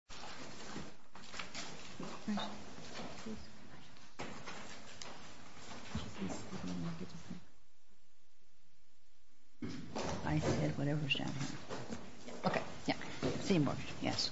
CitiMortgage, Inc. v. Corte Madera Homeowners Ass'n. CitiMortgage, Inc. v. Corte Madera Homeowners Ass'n. CitiMortgage, Inc. v. Corte Madera Homeowners Ass'n.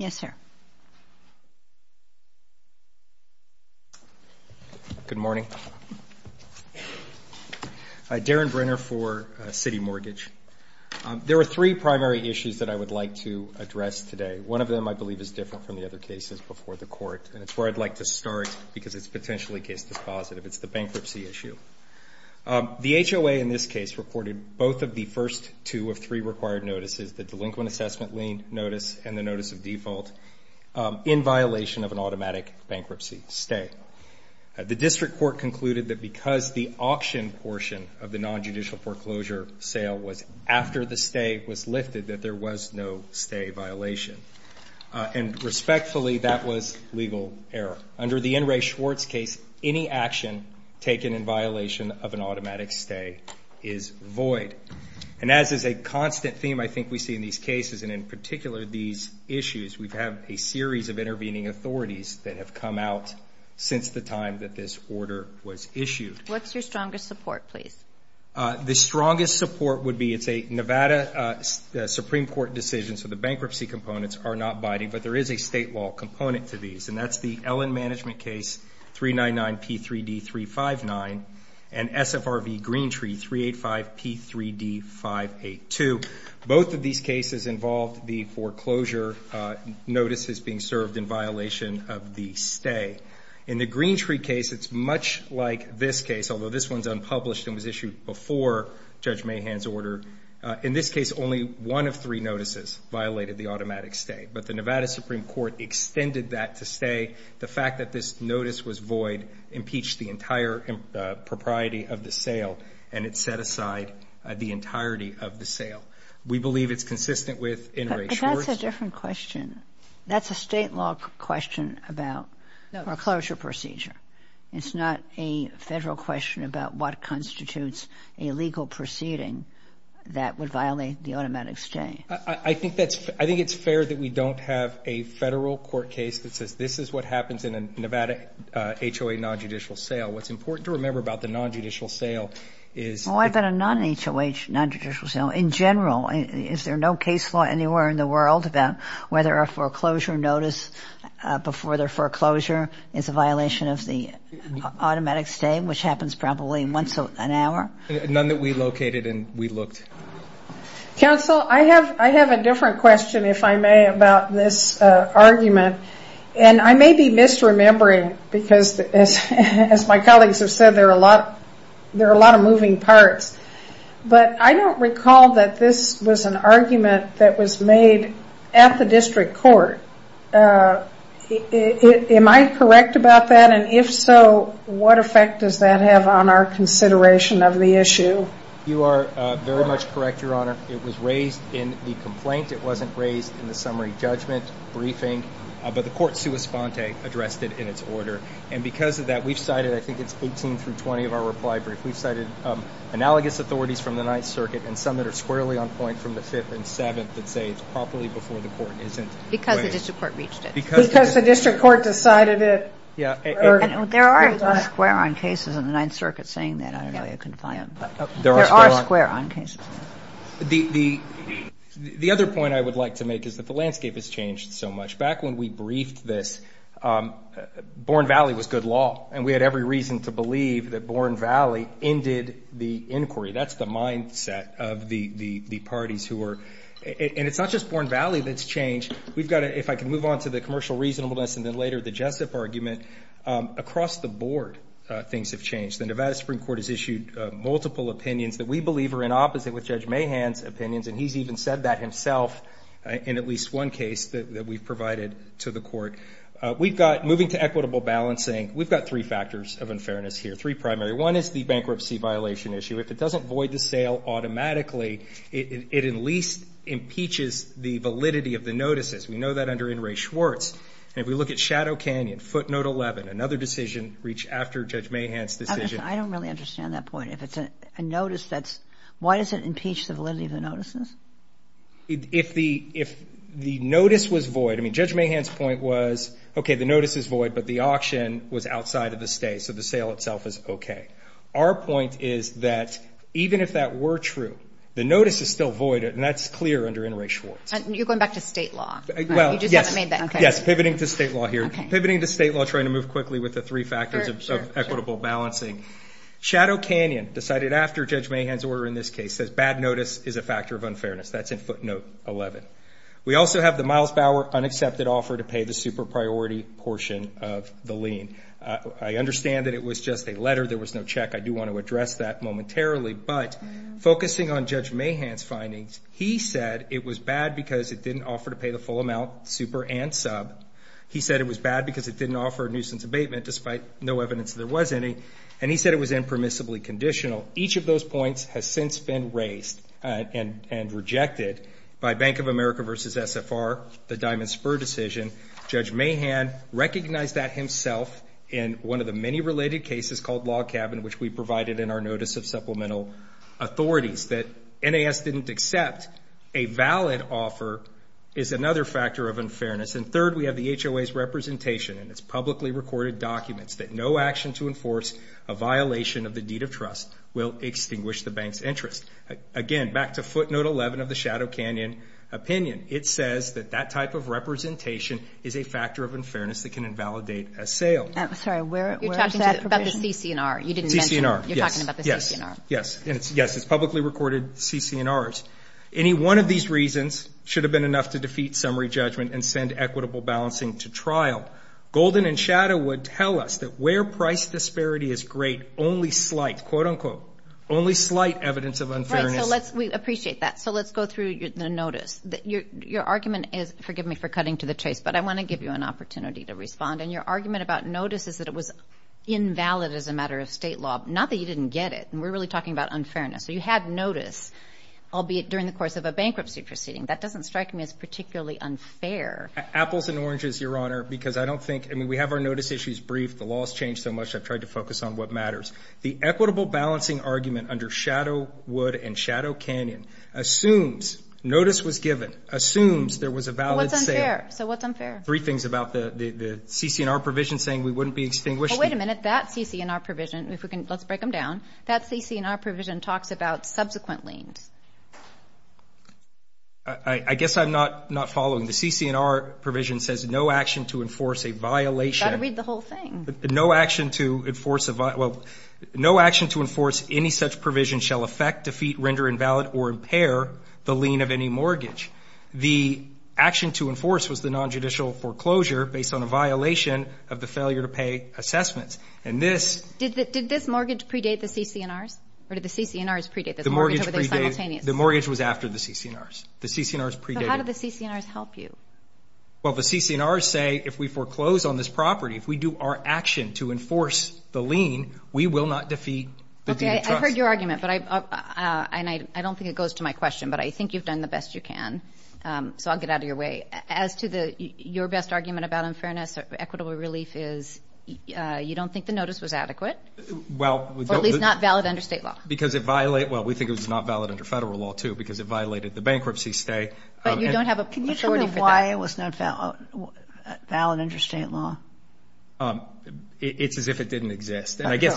Yes, sir. Good morning. Darren Brenner for CitiMortgage. There are three primary issues that I would like to address today. One of them, I believe, is different from the other cases before the Court, and it's where I'd like to start because it's potentially case dispositive. It's the bankruptcy issue. The HOA in this case reported both of the first two of three required notices, the delinquent assessment lien notice and the notice of default, in violation of an automatic bankruptcy stay. The District Court concluded that because the auction portion of the nonjudicial foreclosure sale was after the stay was lifted, that there was no stay violation. And respectfully, that was legal error. Under the N. Ray Schwartz case, any action taken in violation of an automatic stay is void. And as is a constant theme I think we see in these cases, and in particular these issues, we have a series of intervening authorities that have come out since the time that this order was issued. What's your strongest support, please? The strongest support would be it's a Nevada Supreme Court decision, so the bankruptcy components are not biting, but there is a state law component to these, and that's the Ellen Management Case 399P3D359 and SFRV Green Tree 385P3D582. Both of these cases involved the foreclosure notices being served in violation of the stay. In the Green Tree case, it's much like this case, although this one's unpublished and was issued before Judge Mahan's order. In this case, only one of three notices violated the automatic stay, but the Nevada Supreme Court extended that to say the fact that this notice was void impeached the entire propriety of the sale, and it set aside the entirety of the sale. We believe it's consistent with N. Ray Schwartz. But that's a different question. That's a state law question about foreclosure procedure. It's not a Federal question about what constitutes a legal proceeding that would violate the automatic stay. I think it's fair that we don't have a Federal court case that says this is what happens in a Nevada HOA non-judicial sale. What's important to remember about the non-judicial sale is that a non-HOA non-judicial sale, in general, is there no case law anywhere in the world about whether a foreclosure notice before their foreclosure is a violation of the automatic stay, which happens probably once an hour? None that we located and we looked. Counsel, I have a different question, if I may, about this argument. I may be misremembering because, as my colleagues have said, there are a lot of moving parts. But I don't recall that this was an argument that was made at the district court. Am I correct about that? If so, what effect does that have on our consideration of the issue? You are very much correct, Your Honor. It was raised in the complaint. It wasn't raised in the summary judgment briefing. But the court, sua sponte, addressed it in its order. And because of that, we've cited, I think it's 18 through 20 of our reply brief, we've cited analogous authorities from the Ninth Circuit and some that are squarely on point from the Fifth and Seventh that say it's properly before the court isn't. Because the district court reached it. Because the district court decided it. Yeah. There are square on cases in the Ninth Circuit saying that. I don't know if you can find them. There are square on cases. The other point I would like to make is that the landscape has changed so much. Back when we briefed this, Bourne Valley was good law. And we had every reason to believe that Bourne Valley ended the inquiry. That's the mindset of the parties who were ñ and it's not just Bourne Valley that's changed. We've got to, if I can move on to the commercial reasonableness and then later the Jessup argument, across the board things have changed. The Nevada Supreme Court has issued multiple opinions that we believe are in opposite with Judge Mahan's opinions. And he's even said that himself in at least one case that we've provided to the court. We've got, moving to equitable balancing, we've got three factors of unfairness here, three primary. One is the bankruptcy violation issue. If it doesn't void the sale automatically, it at least impeaches the validity of the notices. We know that under N. Ray Schwartz. And if we look at Shadow Canyon, footnote 11, another decision reached after Judge Mahan's decision. I don't really understand that point. If it's a notice that's ñ why does it impeach the validity of the notices? If the notice was void, I mean, Judge Mahan's point was, okay, the notice is void, but the auction was outside of the state, so the sale itself is okay. Our point is that even if that were true, the notice is still void, and that's clear under N. Ray Schwartz. You're going back to state law. Well, yes. Yes, pivoting to state law here. Pivoting to state law, trying to move quickly with the three factors of equitable balancing. Shadow Canyon, decided after Judge Mahan's order in this case, says bad notice is a factor of unfairness. That's in footnote 11. We also have the Miles Bauer unaccepted offer to pay the super priority portion of the lien. I understand that it was just a letter, there was no check. I do want to address that momentarily. But focusing on Judge Mahan's findings, he said it was bad because it didn't offer to pay the full amount, super and sub. He said it was bad because it didn't offer a nuisance abatement, despite no evidence there was any. And he said it was impermissibly conditional. Each of those points has since been raised and rejected by Bank of America v. SFR, the diamond spur decision. Judge Mahan recognized that himself in one of the many related cases called log cabin, which we provided in our notice of supplemental authorities. Second is that NAS didn't accept a valid offer is another factor of unfairness. And third, we have the HOA's representation in its publicly recorded documents, that no action to enforce a violation of the deed of trust will extinguish the bank's interest. Again, back to footnote 11 of the Shadow Canyon opinion. It says that that type of representation is a factor of unfairness that can invalidate a sale. I'm sorry, where is that provision? You're talking about the CC&R. CC&R, yes. You're talking about the CC&R. Yes. Yes, it's publicly recorded CC&Rs. Any one of these reasons should have been enough to defeat summary judgment and send equitable balancing to trial. Golden and Shadow would tell us that where price disparity is great, only slight, quote, unquote, only slight evidence of unfairness. We appreciate that. So let's go through the notice. Your argument is, forgive me for cutting to the chase, but I want to give you an opportunity to respond. And your argument about notice is that it was invalid as a matter of state law, not that you didn't get it. We're really talking about unfairness. So you had notice, albeit during the course of a bankruptcy proceeding. That doesn't strike me as particularly unfair. Apples and oranges, Your Honor, because I don't think we have our notice issues briefed. The law has changed so much I've tried to focus on what matters. The equitable balancing argument under Shadow, Wood, and Shadow Canyon assumes notice was given, assumes there was a valid sale. So what's unfair? Three things about the CC&R provision saying we wouldn't be extinguishing. Well, wait a minute. That CC&R provision, if we can, let's break them down, that CC&R provision talks about subsequent liens. I guess I'm not following. The CC&R provision says no action to enforce a violation. You've got to read the whole thing. No action to enforce a violation, well, no action to enforce any such provision shall affect, defeat, render invalid, or impair the lien of any mortgage. The action to enforce was the nonjudicial foreclosure based on a violation of the failure-to-pay assessments. And this. Did this mortgage predate the CC&Rs? Or did the CC&Rs predate this mortgage over there simultaneously? The mortgage was after the CC&Rs. The CC&Rs predated. So how did the CC&Rs help you? Well, the CC&Rs say if we foreclose on this property, if we do our action to enforce the lien, we will not defeat the deed of trust. Okay, I heard your argument, and I don't think it goes to my question, but I think you've done the best you can, so I'll get out of your way. As to your best argument about unfairness, equitable relief is you don't think the notice was adequate. Well. Or at least not valid under state law. Because it violated. Well, we think it was not valid under federal law, too, because it violated the bankruptcy stay. But you don't have a majority for that. Can you tell me why it was not valid under state law? It's as if it didn't exist. Because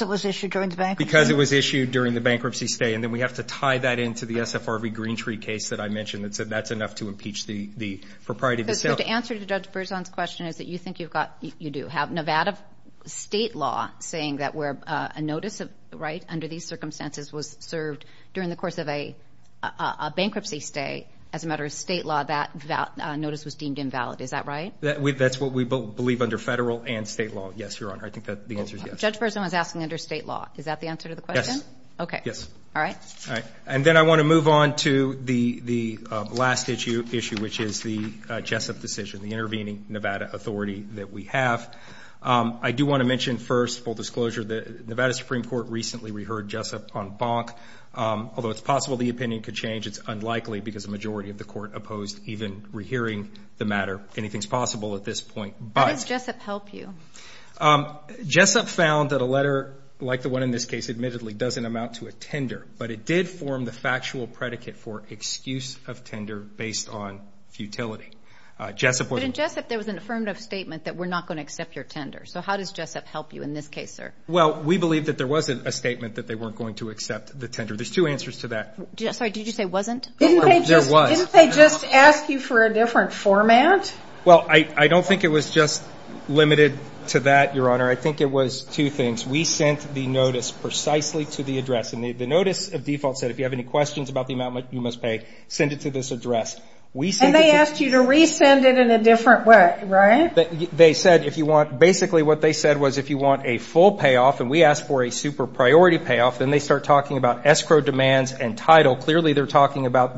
it was issued during the bankruptcy? Because it was issued during the bankruptcy stay. And then we have to tie that into the SFRV Green Tree case that I mentioned that said that's enough to impeach the proprietor of the sale. Because the answer to Judge Berzon's question is that you think you've got, you do, have Nevada state law saying that where a notice, right, under these circumstances was served during the course of a bankruptcy stay, as a matter of state law, that notice was deemed invalid. Is that right? That's what we believe under federal and state law, yes, Your Honor. I think that the answer is yes. Judge Berzon was asking under state law. Is that the answer to the question? Yes. Okay. Yes. All right. All right. And then I want to move on to the last issue, which is the Jessup decision, the intervening Nevada authority that we have. I do want to mention first, full disclosure, the Nevada Supreme Court recently re-heard Jessup on Bonk. Although it's possible the opinion could change, it's unlikely because the majority of the court opposed even re-hearing the matter. Anything is possible at this point. How does Jessup help you? Jessup found that a letter like the one in this case, admittedly, doesn't amount to a tender, but it did form the factual predicate for excuse of tender based on futility. But in Jessup, there was an affirmative statement that we're not going to accept your tender. So how does Jessup help you in this case, sir? Well, we believe that there was a statement that they weren't going to accept the tender. There's two answers to that. Sorry, did you say wasn't? There was. Didn't they just ask you for a different format? Well, I don't think it was just limited to that, Your Honor. I think it was two things. We sent the notice precisely to the address. And the notice of default said, if you have any questions about the amount you must pay, send it to this address. And they asked you to resend it in a different way, right? They said if you want, basically what they said was if you want a full payoff, and we asked for a super priority payoff, Clearly they're talking about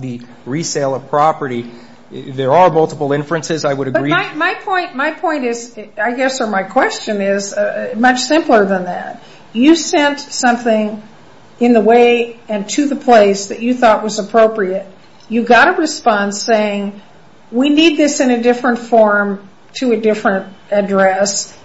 the resale of property. There are multiple inferences, I would agree. But my point is, I guess, or my question is much simpler than that. You sent something in the way and to the place that you thought was appropriate. You got a response saying, we need this in a different form to a different address,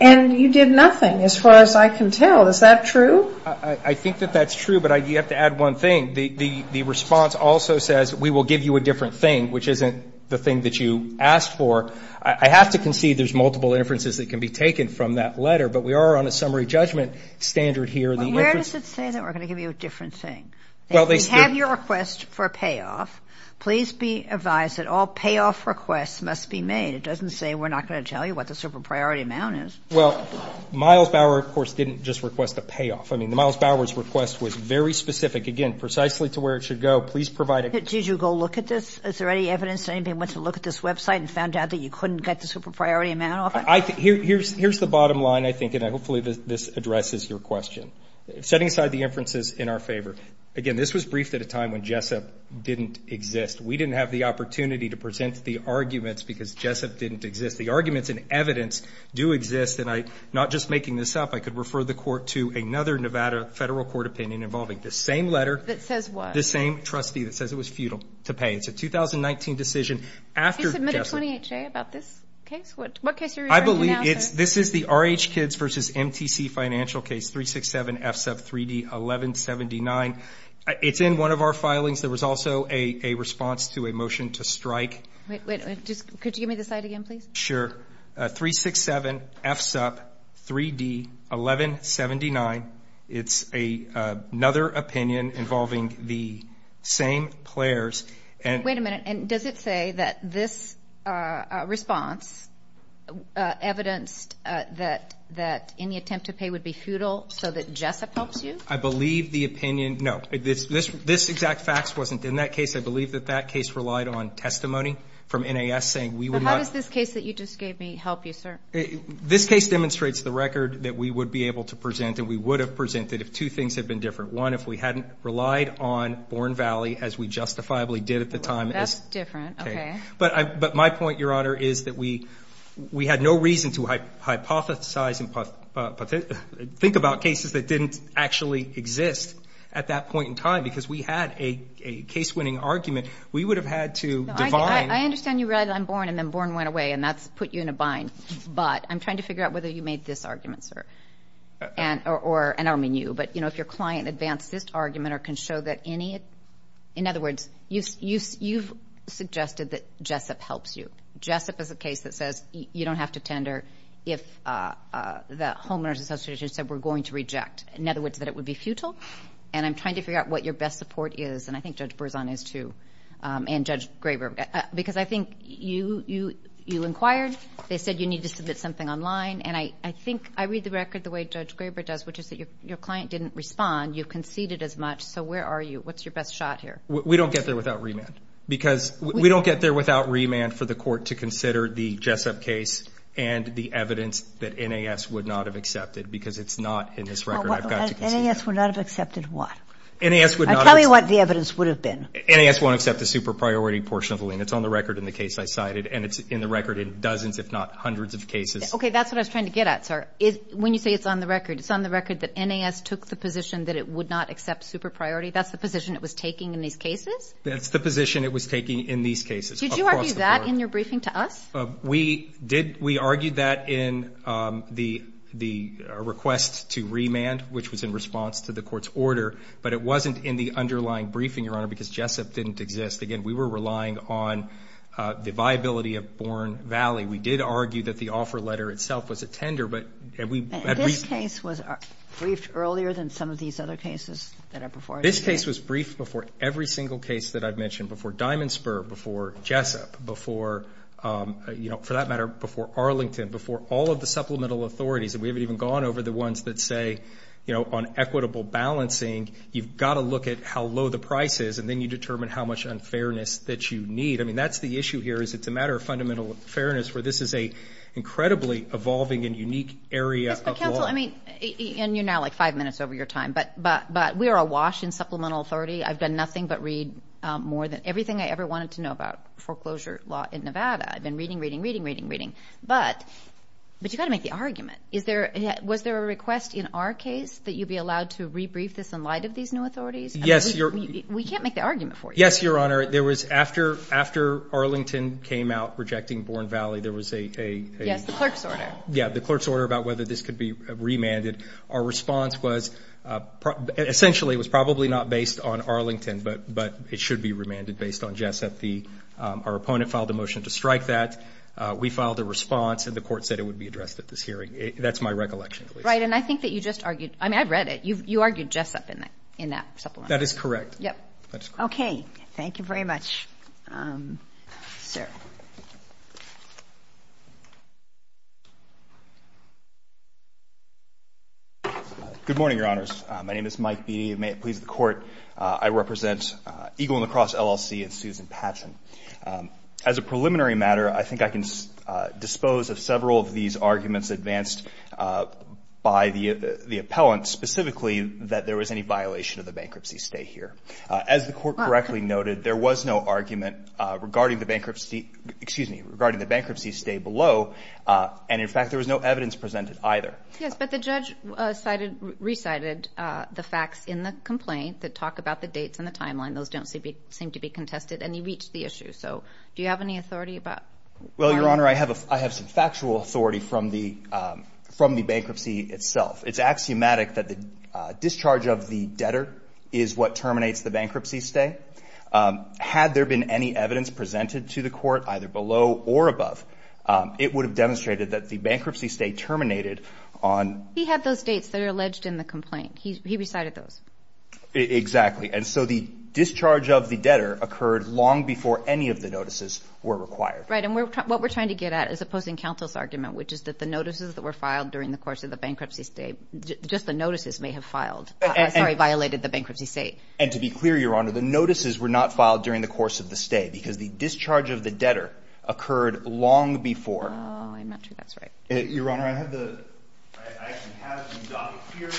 and you did nothing as far as I can tell. Is that true? I think that that's true, but you have to add one thing. The response also says, we will give you a different thing, which isn't the thing that you asked for. I have to concede there's multiple inferences that can be taken from that letter, but we are on a summary judgment standard here. Well, where does it say that we're going to give you a different thing? If we have your request for a payoff, please be advised that all payoff requests must be made. It doesn't say we're not going to tell you what the super priority amount is. Well, Miles Bauer, of course, didn't just request a payoff. I mean, the Miles Bauer's request was very specific, again, precisely to where it should go. Did you go look at this? Is there any evidence that anyone went to look at this website and found out that you couldn't get the super priority amount off it? Here's the bottom line, I think, and hopefully this addresses your question. Setting aside the inferences in our favor. Again, this was briefed at a time when JSEP didn't exist. We didn't have the opportunity to present the arguments because JSEP didn't exist. The arguments and evidence do exist, and not just making this up, I could refer the court to another Nevada federal court opinion involving the same letter. That says what? The same trustee that says it was futile to pay. It's a 2019 decision after JSEP. Did you submit a 28-J about this case? What case are you referring to now, sir? I believe this is the RH Kids v. MTC financial case, 367 FSUP 3D 1179. It's in one of our filings. There was also a response to a motion to strike. Could you give me the slide again, please? Sure. 367 FSUP 3D 1179. It's another opinion involving the same players. Wait a minute. Does it say that this response evidenced that any attempt to pay would be futile so that JSEP helps you? I believe the opinion no. This exact fact wasn't in that case. I believe that that case relied on testimony from NAS saying we would not. This case demonstrates the record that we would be able to present and we would have presented if two things had been different. One, if we hadn't relied on Born Valley as we justifiably did at the time. That's different. Okay. But my point, Your Honor, is that we had no reason to hypothesize and think about cases that didn't actually exist at that point in time because we had a case-winning argument. We would have had to divine. I understand you relied on Born and then Born went away, and that's put you in a bind. But I'm trying to figure out whether you made this argument, sir. And I don't mean you, but, you know, if your client advanced this argument or can show that any of it. In other words, you've suggested that JSEP helps you. JSEP is a case that says you don't have to tender if the homeowners association said we're going to reject. In other words, that it would be futile. And I'm trying to figure out what your best support is. And I think Judge Berzon is, too, and Judge Graber. Because I think you inquired. They said you need to submit something online. And I think I read the record the way Judge Graber does, which is that your client didn't respond. You conceded as much. So where are you? What's your best shot here? We don't get there without remand. Because we don't get there without remand for the court to consider the JSEP case and the evidence that NAS would not have accepted because it's not in this record. NAS would not have accepted what? NAS would not have accepted. Tell me what the evidence would have been. NAS won't accept the super priority portion of the lien. It's on the record in the case I cited. And it's in the record in dozens, if not hundreds, of cases. Okay. That's what I was trying to get at, sir. When you say it's on the record, it's on the record that NAS took the position that it would not accept super priority? That's the position it was taking in these cases? That's the position it was taking in these cases. Did you argue that in your briefing to us? We did. We argued that in the request to remand, which was in response to the court's order. But it wasn't in the underlying briefing, Your Honor, because JSEP didn't exist. Again, we were relying on the viability of Bourne Valley. We did argue that the offer letter itself was a tender. And this case was briefed earlier than some of these other cases that are before us? This case was briefed before every single case that I've mentioned, before Diamond Spur, before JSEP, before, you know, for that matter, before Arlington, before all of the supplemental authorities. And we haven't even gone over the ones that say, you know, on equitable balancing, you've got to look at how low the price is and then you determine how much unfairness that you need. I mean, that's the issue here is it's a matter of fundamental fairness where this is an incredibly evolving and unique area of law. Counsel, I mean, and you're now like five minutes over your time, but we are awash in supplemental authority. I've done nothing but read more than everything I ever wanted to know about foreclosure law in Nevada. I've been reading, reading, reading, reading, reading. But you've got to make the argument. Was there a request in our case that you'd be allowed to rebrief this in light of these new authorities? Yes. We can't make the argument for you. Yes, Your Honor. There was after Arlington came out rejecting Bourne Valley, there was a... Yes, the clerk's order. Yeah, the clerk's order about whether this could be remanded. Our response was essentially it was probably not based on Arlington, but it should be remanded based on JSEP. Our opponent filed a motion to strike that. We filed a response, and the court said it would be addressed at this hearing. That's my recollection, please. Right, and I think that you just argued... I mean, I read it. You argued JSEP in that supplemental. That is correct. Yep. Okay. Thank you very much, sir. Good morning, Your Honors. My name is Mike Beattie. May it please the Court, I represent Eagle and the Cross LLC and Susan Patchen. As a preliminary matter, I think I can dispose of several of these arguments advanced by the appellant, specifically that there was any violation of the bankruptcy stay here. As the Court correctly noted, there was no argument regarding the bankruptcy stay below, and in fact, there was no evidence presented either. Yes, but the judge recited the facts in the complaint that talk about the dates and the timeline. And those don't seem to be contested, and he reached the issue. So do you have any authority about that? Well, Your Honor, I have some factual authority from the bankruptcy itself. It's axiomatic that the discharge of the debtor is what terminates the bankruptcy stay. Had there been any evidence presented to the Court, either below or above, it would have demonstrated that the bankruptcy stay terminated on... He had those dates that are alleged in the complaint. He recited those. Exactly. And so the discharge of the debtor occurred long before any of the notices were required. Right. And what we're trying to get at is opposing counsel's argument, which is that the notices that were filed during the course of the bankruptcy stay, just the notices may have violated the bankruptcy stay. And to be clear, Your Honor, the notices were not filed during the course of the stay because the discharge of the debtor occurred long before... Oh, I'm not sure that's right. Your Honor, I have the document here,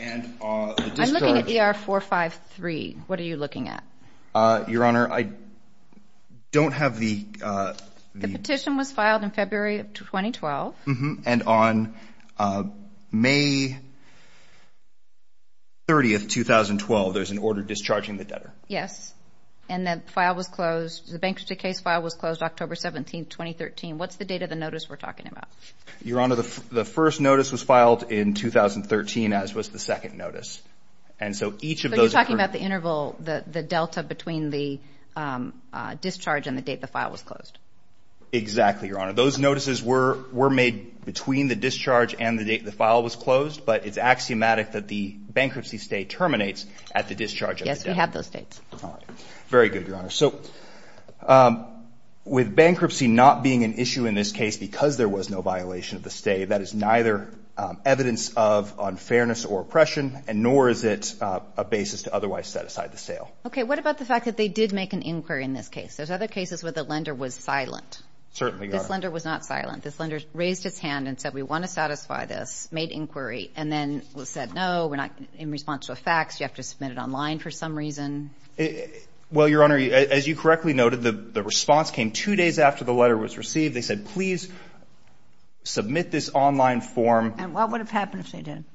and the discharge... I'm looking at ER 453. What are you looking at? Your Honor, I don't have the... The petition was filed in February of 2012. And on May 30, 2012, there's an order discharging the debtor. Yes. And the file was closed. The bankruptcy case file was closed October 17, 2013. What's the date of the notice we're talking about? Your Honor, the first notice was filed in 2013, as was the second notice. And so each of those... But you're talking about the interval, the delta between the discharge and the date the file was closed. Exactly, Your Honor. Those notices were made between the discharge and the date the file was closed, but it's axiomatic that the bankruptcy stay terminates at the discharge of the debtor. Yes, we have those dates. All right. Very good, Your Honor. So with bankruptcy not being an issue in this case because there was no violation of the stay, that is neither evidence of unfairness or oppression, nor is it a basis to otherwise set aside the sale. Okay. What about the fact that they did make an inquiry in this case? There's other cases where the lender was silent. Certainly, Your Honor. This lender was not silent. This lender raised its hand and said, We want to satisfy this, made inquiry, and then said, No, we're not in response to a fax. You have to submit it online for some reason. Well, Your Honor, as you correctly noted, the response came two days after the letter was received. They said, Please submit this online form. And what would have happened if they didn't?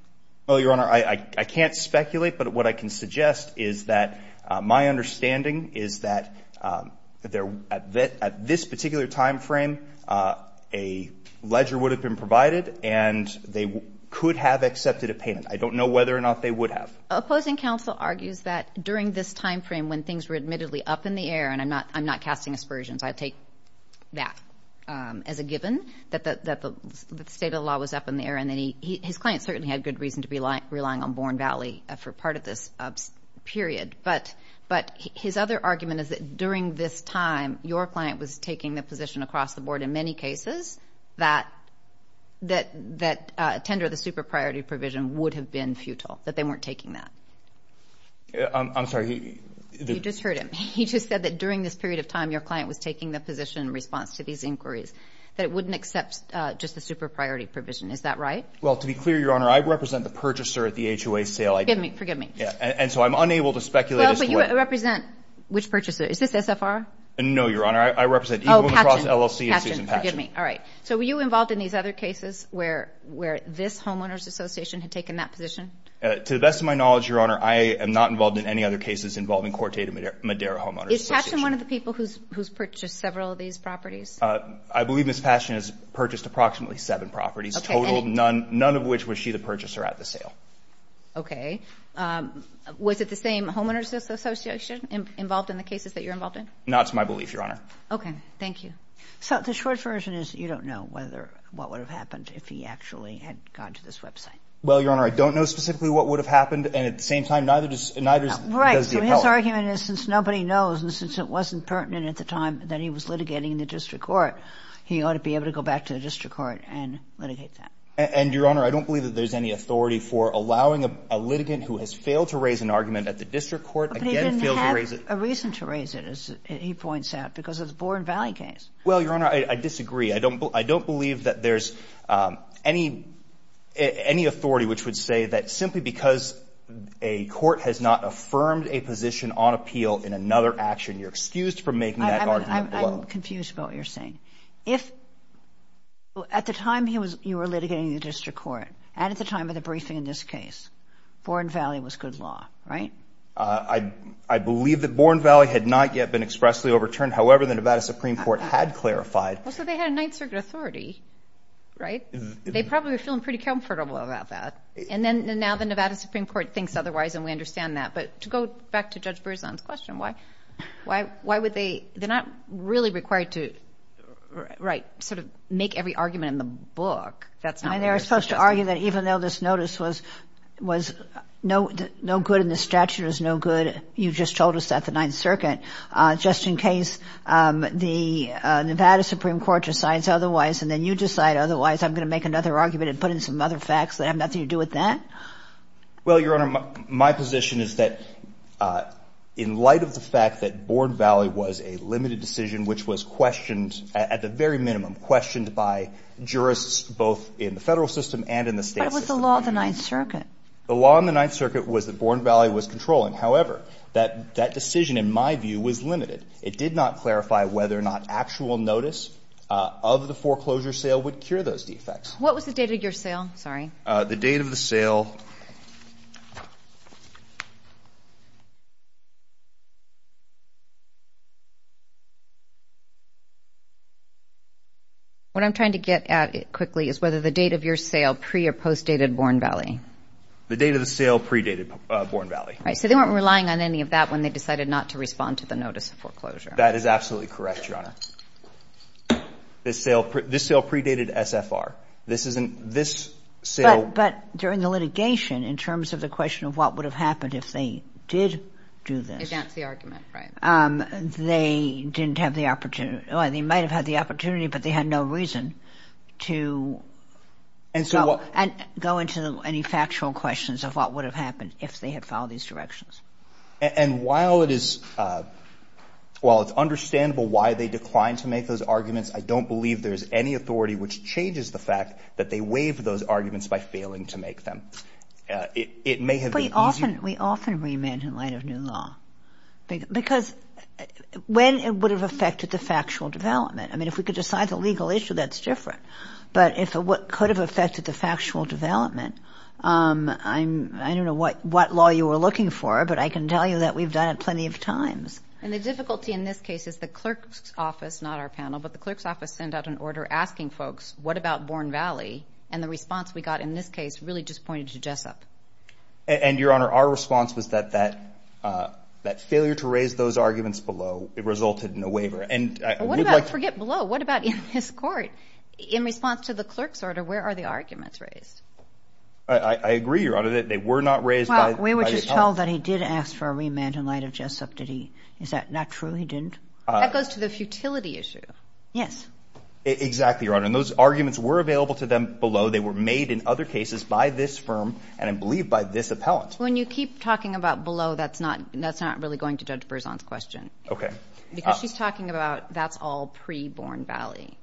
Well, Your Honor, I can't speculate, but what I can suggest is that my understanding is that at this particular time frame, a ledger would have been provided, and they could have accepted a payment. I don't know whether or not they would have. Opposing counsel argues that during this time frame, when things were admittedly up in the air, and I'm not casting aspersions, I take that as a given, that the state of the law was up in the air, and then his client certainly had good reason to be relying on Born Valley for part of this period. But his other argument is that during this time, your client was taking the position across the board in many cases that tender the super-priority provision would have been futile, that they weren't taking that. I'm sorry. You just heard him. He just said that during this period of time, your client was taking the position in response to these inquiries, that it wouldn't accept just the super-priority provision. Is that right? Well, to be clear, Your Honor, I represent the purchaser at the HOA sale. Forgive me. And so I'm unable to speculate as to what— Well, but you represent which purchaser? Is this SFR? No, Your Honor. I represent Eagle and Cross LLC. Oh, Patchen. Patchen, forgive me. All right. So were you involved in these other cases where this homeowners association had taken that position? To the best of my knowledge, Your Honor, I am not involved in any other cases involving Corte de Madera Homeowners Association. Is Patchen one of the people who's purchased several of these properties? I believe Ms. Patchen has purchased approximately seven properties. Okay. None of which was she the purchaser at the sale. Okay. Was it the same homeowners association involved in the cases that you're involved in? Not to my belief, Your Honor. Okay. Thank you. So the short version is you don't know what would have happened if he actually had gone to this website. Well, Your Honor, I don't know specifically what would have happened. And at the same time, neither does the appellant. Right. So his argument is since nobody knows and since it wasn't pertinent at the time that he was litigating the district court, he ought to be able to go back to the district court and litigate that. And, Your Honor, I don't believe that there's any authority for allowing a litigant who has failed to raise an argument at the district court again fails to raise it. But he didn't have a reason to raise it, as he points out, because of the Bourne Valley case. Well, Your Honor, I disagree. I don't believe that there's any authority which would say that simply because a court has not affirmed a position on appeal in another action, you're excused from making that argument. I'm confused about what you're saying. If at the time you were litigating the district court and at the time of the briefing in this case, Bourne Valley was good law, right? I believe that Bourne Valley had not yet been expressly overturned. However, the Nevada Supreme Court had clarified. Well, so they had a Ninth Circuit authority, right? They probably were feeling pretty comfortable about that. And now the Nevada Supreme Court thinks otherwise, and we understand that. But to go back to Judge Berzon's question, why would they ‑‑ they're not really required to, right, sort of make every argument in the book. And they were supposed to argue that even though this notice was no good and the statute was no good, you just told us that at the Ninth Circuit, just in case the Nevada Supreme Court decides otherwise and then you decide otherwise, I'm going to make another argument and put in some other facts that have nothing to do with that? Well, Your Honor, my position is that in light of the fact that Bourne Valley was a limited decision which was questioned at the very minimum, questioned by jurists both in the Federal system and in the State system. But it was the law of the Ninth Circuit. The law in the Ninth Circuit was that Bourne Valley was controlling. However, that decision, in my view, was limited. It did not clarify whether or not actual notice of the foreclosure sale would cure those defects. What was the date of your sale? Sorry. The date of the sale. What I'm trying to get at quickly is whether the date of your sale pre- or post-dated Bourne Valley. The date of the sale pre-dated Bourne Valley. Right. So they weren't relying on any of that when they decided not to respond to the notice of foreclosure. That is absolutely correct, Your Honor. This sale pre-dated SFR. But during the litigation, in terms of the question of what would have happened if they did do this. If that's the argument, right. They didn't have the opportunity. They might have had the opportunity, but they had no reason to go into any factual questions of what would have happened if they had followed these directions. And while it is understandable why they declined to make those arguments, I don't believe there's any authority which changes the fact that they waived those arguments by failing to make them. It may have been easier. We often remand in light of new law. Because when it would have affected the factual development. I mean, if we could decide the legal issue, that's different. But if what could have affected the factual development, I don't know what law you were looking for, but I can tell you that we've done it plenty of times. And the difficulty in this case is the clerk's office, not our panel, but the clerk's office sent out an order asking folks, what about Bourne Valley? And the response we got in this case really just pointed to Jessup. And, Your Honor, our response was that that failure to raise those arguments below resulted in a waiver. What about forget below? What about in this court? In response to the clerk's order, where are the arguments raised? I agree, Your Honor, that they were not raised by the appellant. Well, we were just told that he did ask for a remand in light of Jessup. Did he? Is that not true he didn't? That goes to the futility issue. Yes. Exactly, Your Honor. And those arguments were available to them below. They were made in other cases by this firm and, I believe, by this appellant. When you keep talking about below, that's not really going to judge Berzon's question. Okay. Because she's talking about that's all pre-Bourne Valley.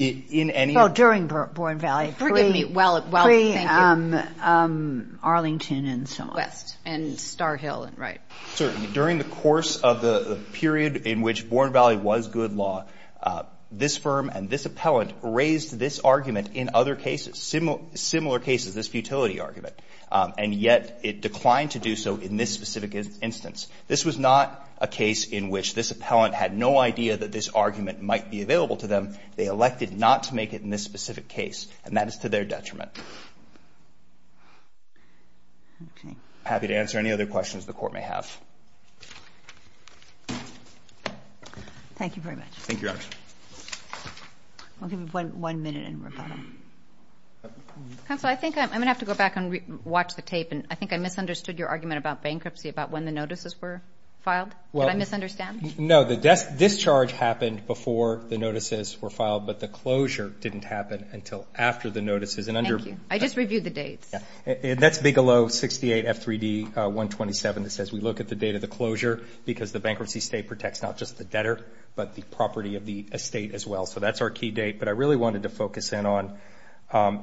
Oh, during Bourne Valley. Forgive me. Well, thank you. Pre-Arlington and so on. West and Star Hill and right. Certainly. During the course of the period in which Bourne Valley was good law, this firm and this appellant raised this argument in other cases, similar cases, this futility argument. And yet it declined to do so in this specific instance. This was not a case in which this appellant had no idea that this argument might be available to them. They elected not to make it in this specific case. And that is to their detriment. Okay. I'm happy to answer any other questions the Court may have. Thank you very much. Thank you, Your Honor. We'll give you one minute in rebuttal. Counsel, I think I'm going to have to go back and watch the tape. I think I misunderstood your argument about bankruptcy, about when the notices were filed. Did I misunderstand? No. The discharge happened before the notices were filed, but the closure didn't happen until after the notices. Thank you. I just reviewed the dates. That's Bigelow 68 F3D 127. It says we look at the date of the closure because the bankruptcy state protects not just the debtor, but the property of the estate as well. So that's our key date. But I really wanted to focus in on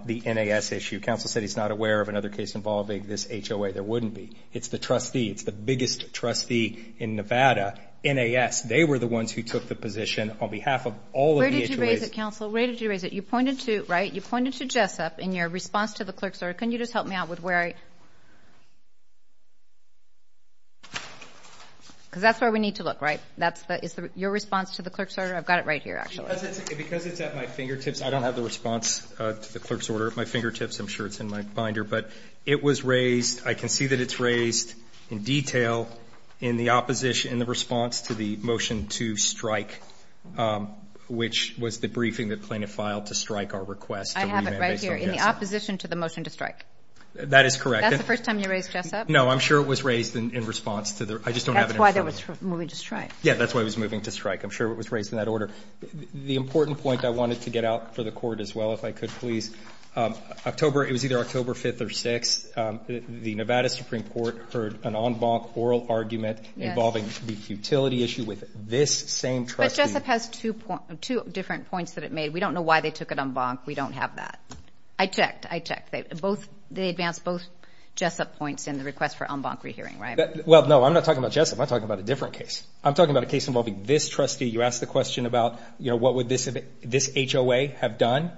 the NAS issue. Counsel said he's not aware of another case involving this HOA. There wouldn't be. It's the trustee. It's the biggest trustee in Nevada, NAS. They were the ones who took the position on behalf of all of the HOAs. Where did you raise it, Counsel? Where did you raise it? You pointed to Jessup in your response to the clerk's order. Can you just help me out with where I am? Because that's where we need to look, right? Is that your response to the clerk's order? I've got it right here, actually. Because it's at my fingertips, I don't have the response to the clerk's order at my fingertips. I'm sure it's in my binder. But it was raised, I can see that it's raised in detail in the opposition, in the response to the motion to strike, which was the briefing that Plaintiff filed to strike our request to remand based on Jessup. I have it right here, in the opposition to the motion to strike. That is correct. That's the first time you raised Jessup? No, I'm sure it was raised in response to the ‑‑I just don't have it in front of me. Yeah, that's why it was moving to strike. I'm sure it was raised in that order. The important point I wanted to get out for the court as well, if I could, please. October, it was either October 5th or 6th, the Nevada Supreme Court heard an en banc oral argument involving the utility issue with this same trustee. But Jessup has two different points that it made. We don't know why they took it en banc. We don't have that. I checked. I checked. They advanced both Jessup points in the request for en banc rehearing, right? Well, no, I'm not talking about Jessup. I'm talking about a different case. I'm talking about a case involving this trustee. You asked the question about, you know, what would this HOA have done?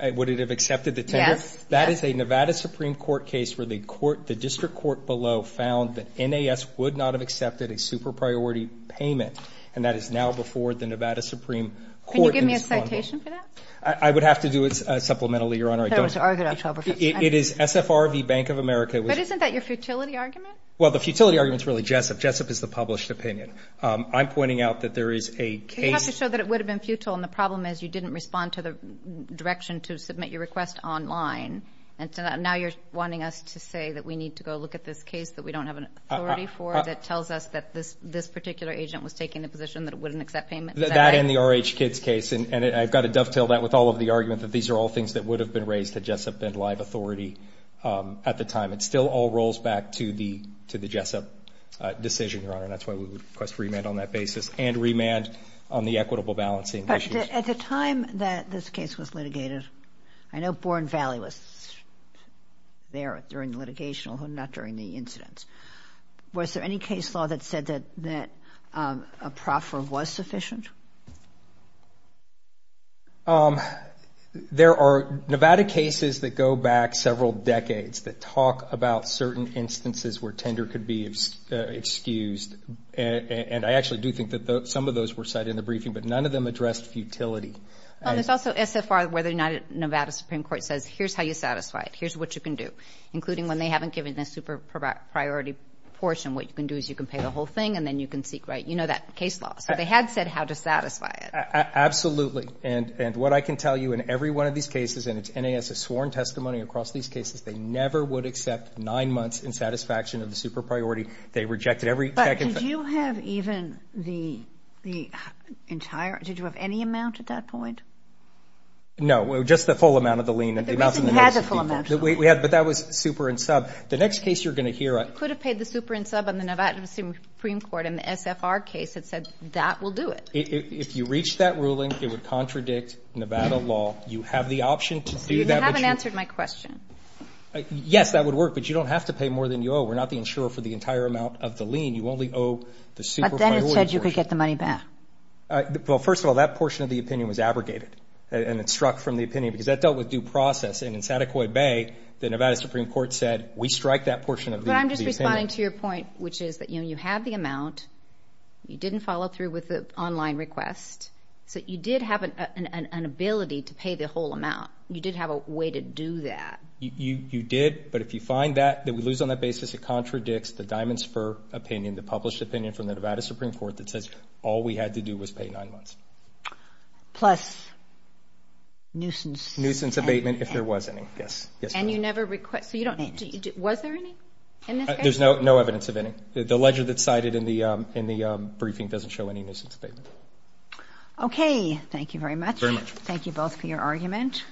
Would it have accepted the tender? Yes. That is a Nevada Supreme Court case where the court, the district court below, found that NAS would not have accepted a super priority payment, and that is now before the Nevada Supreme Court. Can you give me a citation for that? I would have to do it supplementarily, Your Honor. I thought it was argued October 5th. It is SFR v. Bank of America. But isn't that your futility argument? Well, the futility argument is really Jessup. Jessup is the published opinion. I'm pointing out that there is a case. You have to show that it would have been futile, and the problem is you didn't respond to the direction to submit your request online, and now you're wanting us to say that we need to go look at this case that we don't have an authority for that tells us that this particular agent was taking the position that it wouldn't accept payment. That and the RH Kids case, and I've got to dovetail that with all of the argument that these are all things that would have been raised at Jessup and live authority at the time. It still all rolls back to the Jessup decision, Your Honor, and that's why we would request remand on that basis and remand on the equitable balancing issues. But at the time that this case was litigated, I know Born Valley was there during the litigation, although not during the incidents. Was there any case law that said that a proffer was sufficient? There are Nevada cases that go back several decades that talk about certain instances where tender could be excused, and I actually do think that some of those were cited in the briefing, but none of them addressed futility. There's also SFR where the Nevada Supreme Court says here's how you satisfy it, here's what you can do, including when they haven't given a super priority portion, what you can do is you can pay the whole thing and then you can seek, right, you know that case law. So they had said how to satisfy it. Absolutely. And what I can tell you in every one of these cases, and it's NAS's sworn testimony across these cases, they never would accept nine months in satisfaction of the super priority. They rejected every second. But did you have even the entire, did you have any amount at that point? No, just the full amount of the lien. But that was super and sub. The next case you're going to hear. You could have paid the super and sub on the Nevada Supreme Court in the SFR case that said that will do it. If you reach that ruling, it would contradict Nevada law. You have the option to do that. You haven't answered my question. Yes, that would work, but you don't have to pay more than you owe. We're not the insurer for the entire amount of the lien. You only owe the super priority portion. But then it said you could get the money back. Well, first of all, that portion of the opinion was abrogated, and it struck from the opinion because that dealt with due process. I'm just responding to your point, which is that you have the amount. You didn't follow through with the online request. So you did have an ability to pay the whole amount. You did have a way to do that. You did, but if you find that, that we lose on that basis, it contradicts the Diamonds for Opinion, the published opinion from the Nevada Supreme Court that says all we had to do was pay nine months. Plus nuisance. Nuisance abatement if there was any, yes. Was there any in this case? There's no evidence of any. The ledger that's cited in the briefing doesn't show any nuisance abatement. Okay, thank you very much. Thank you both for your argument.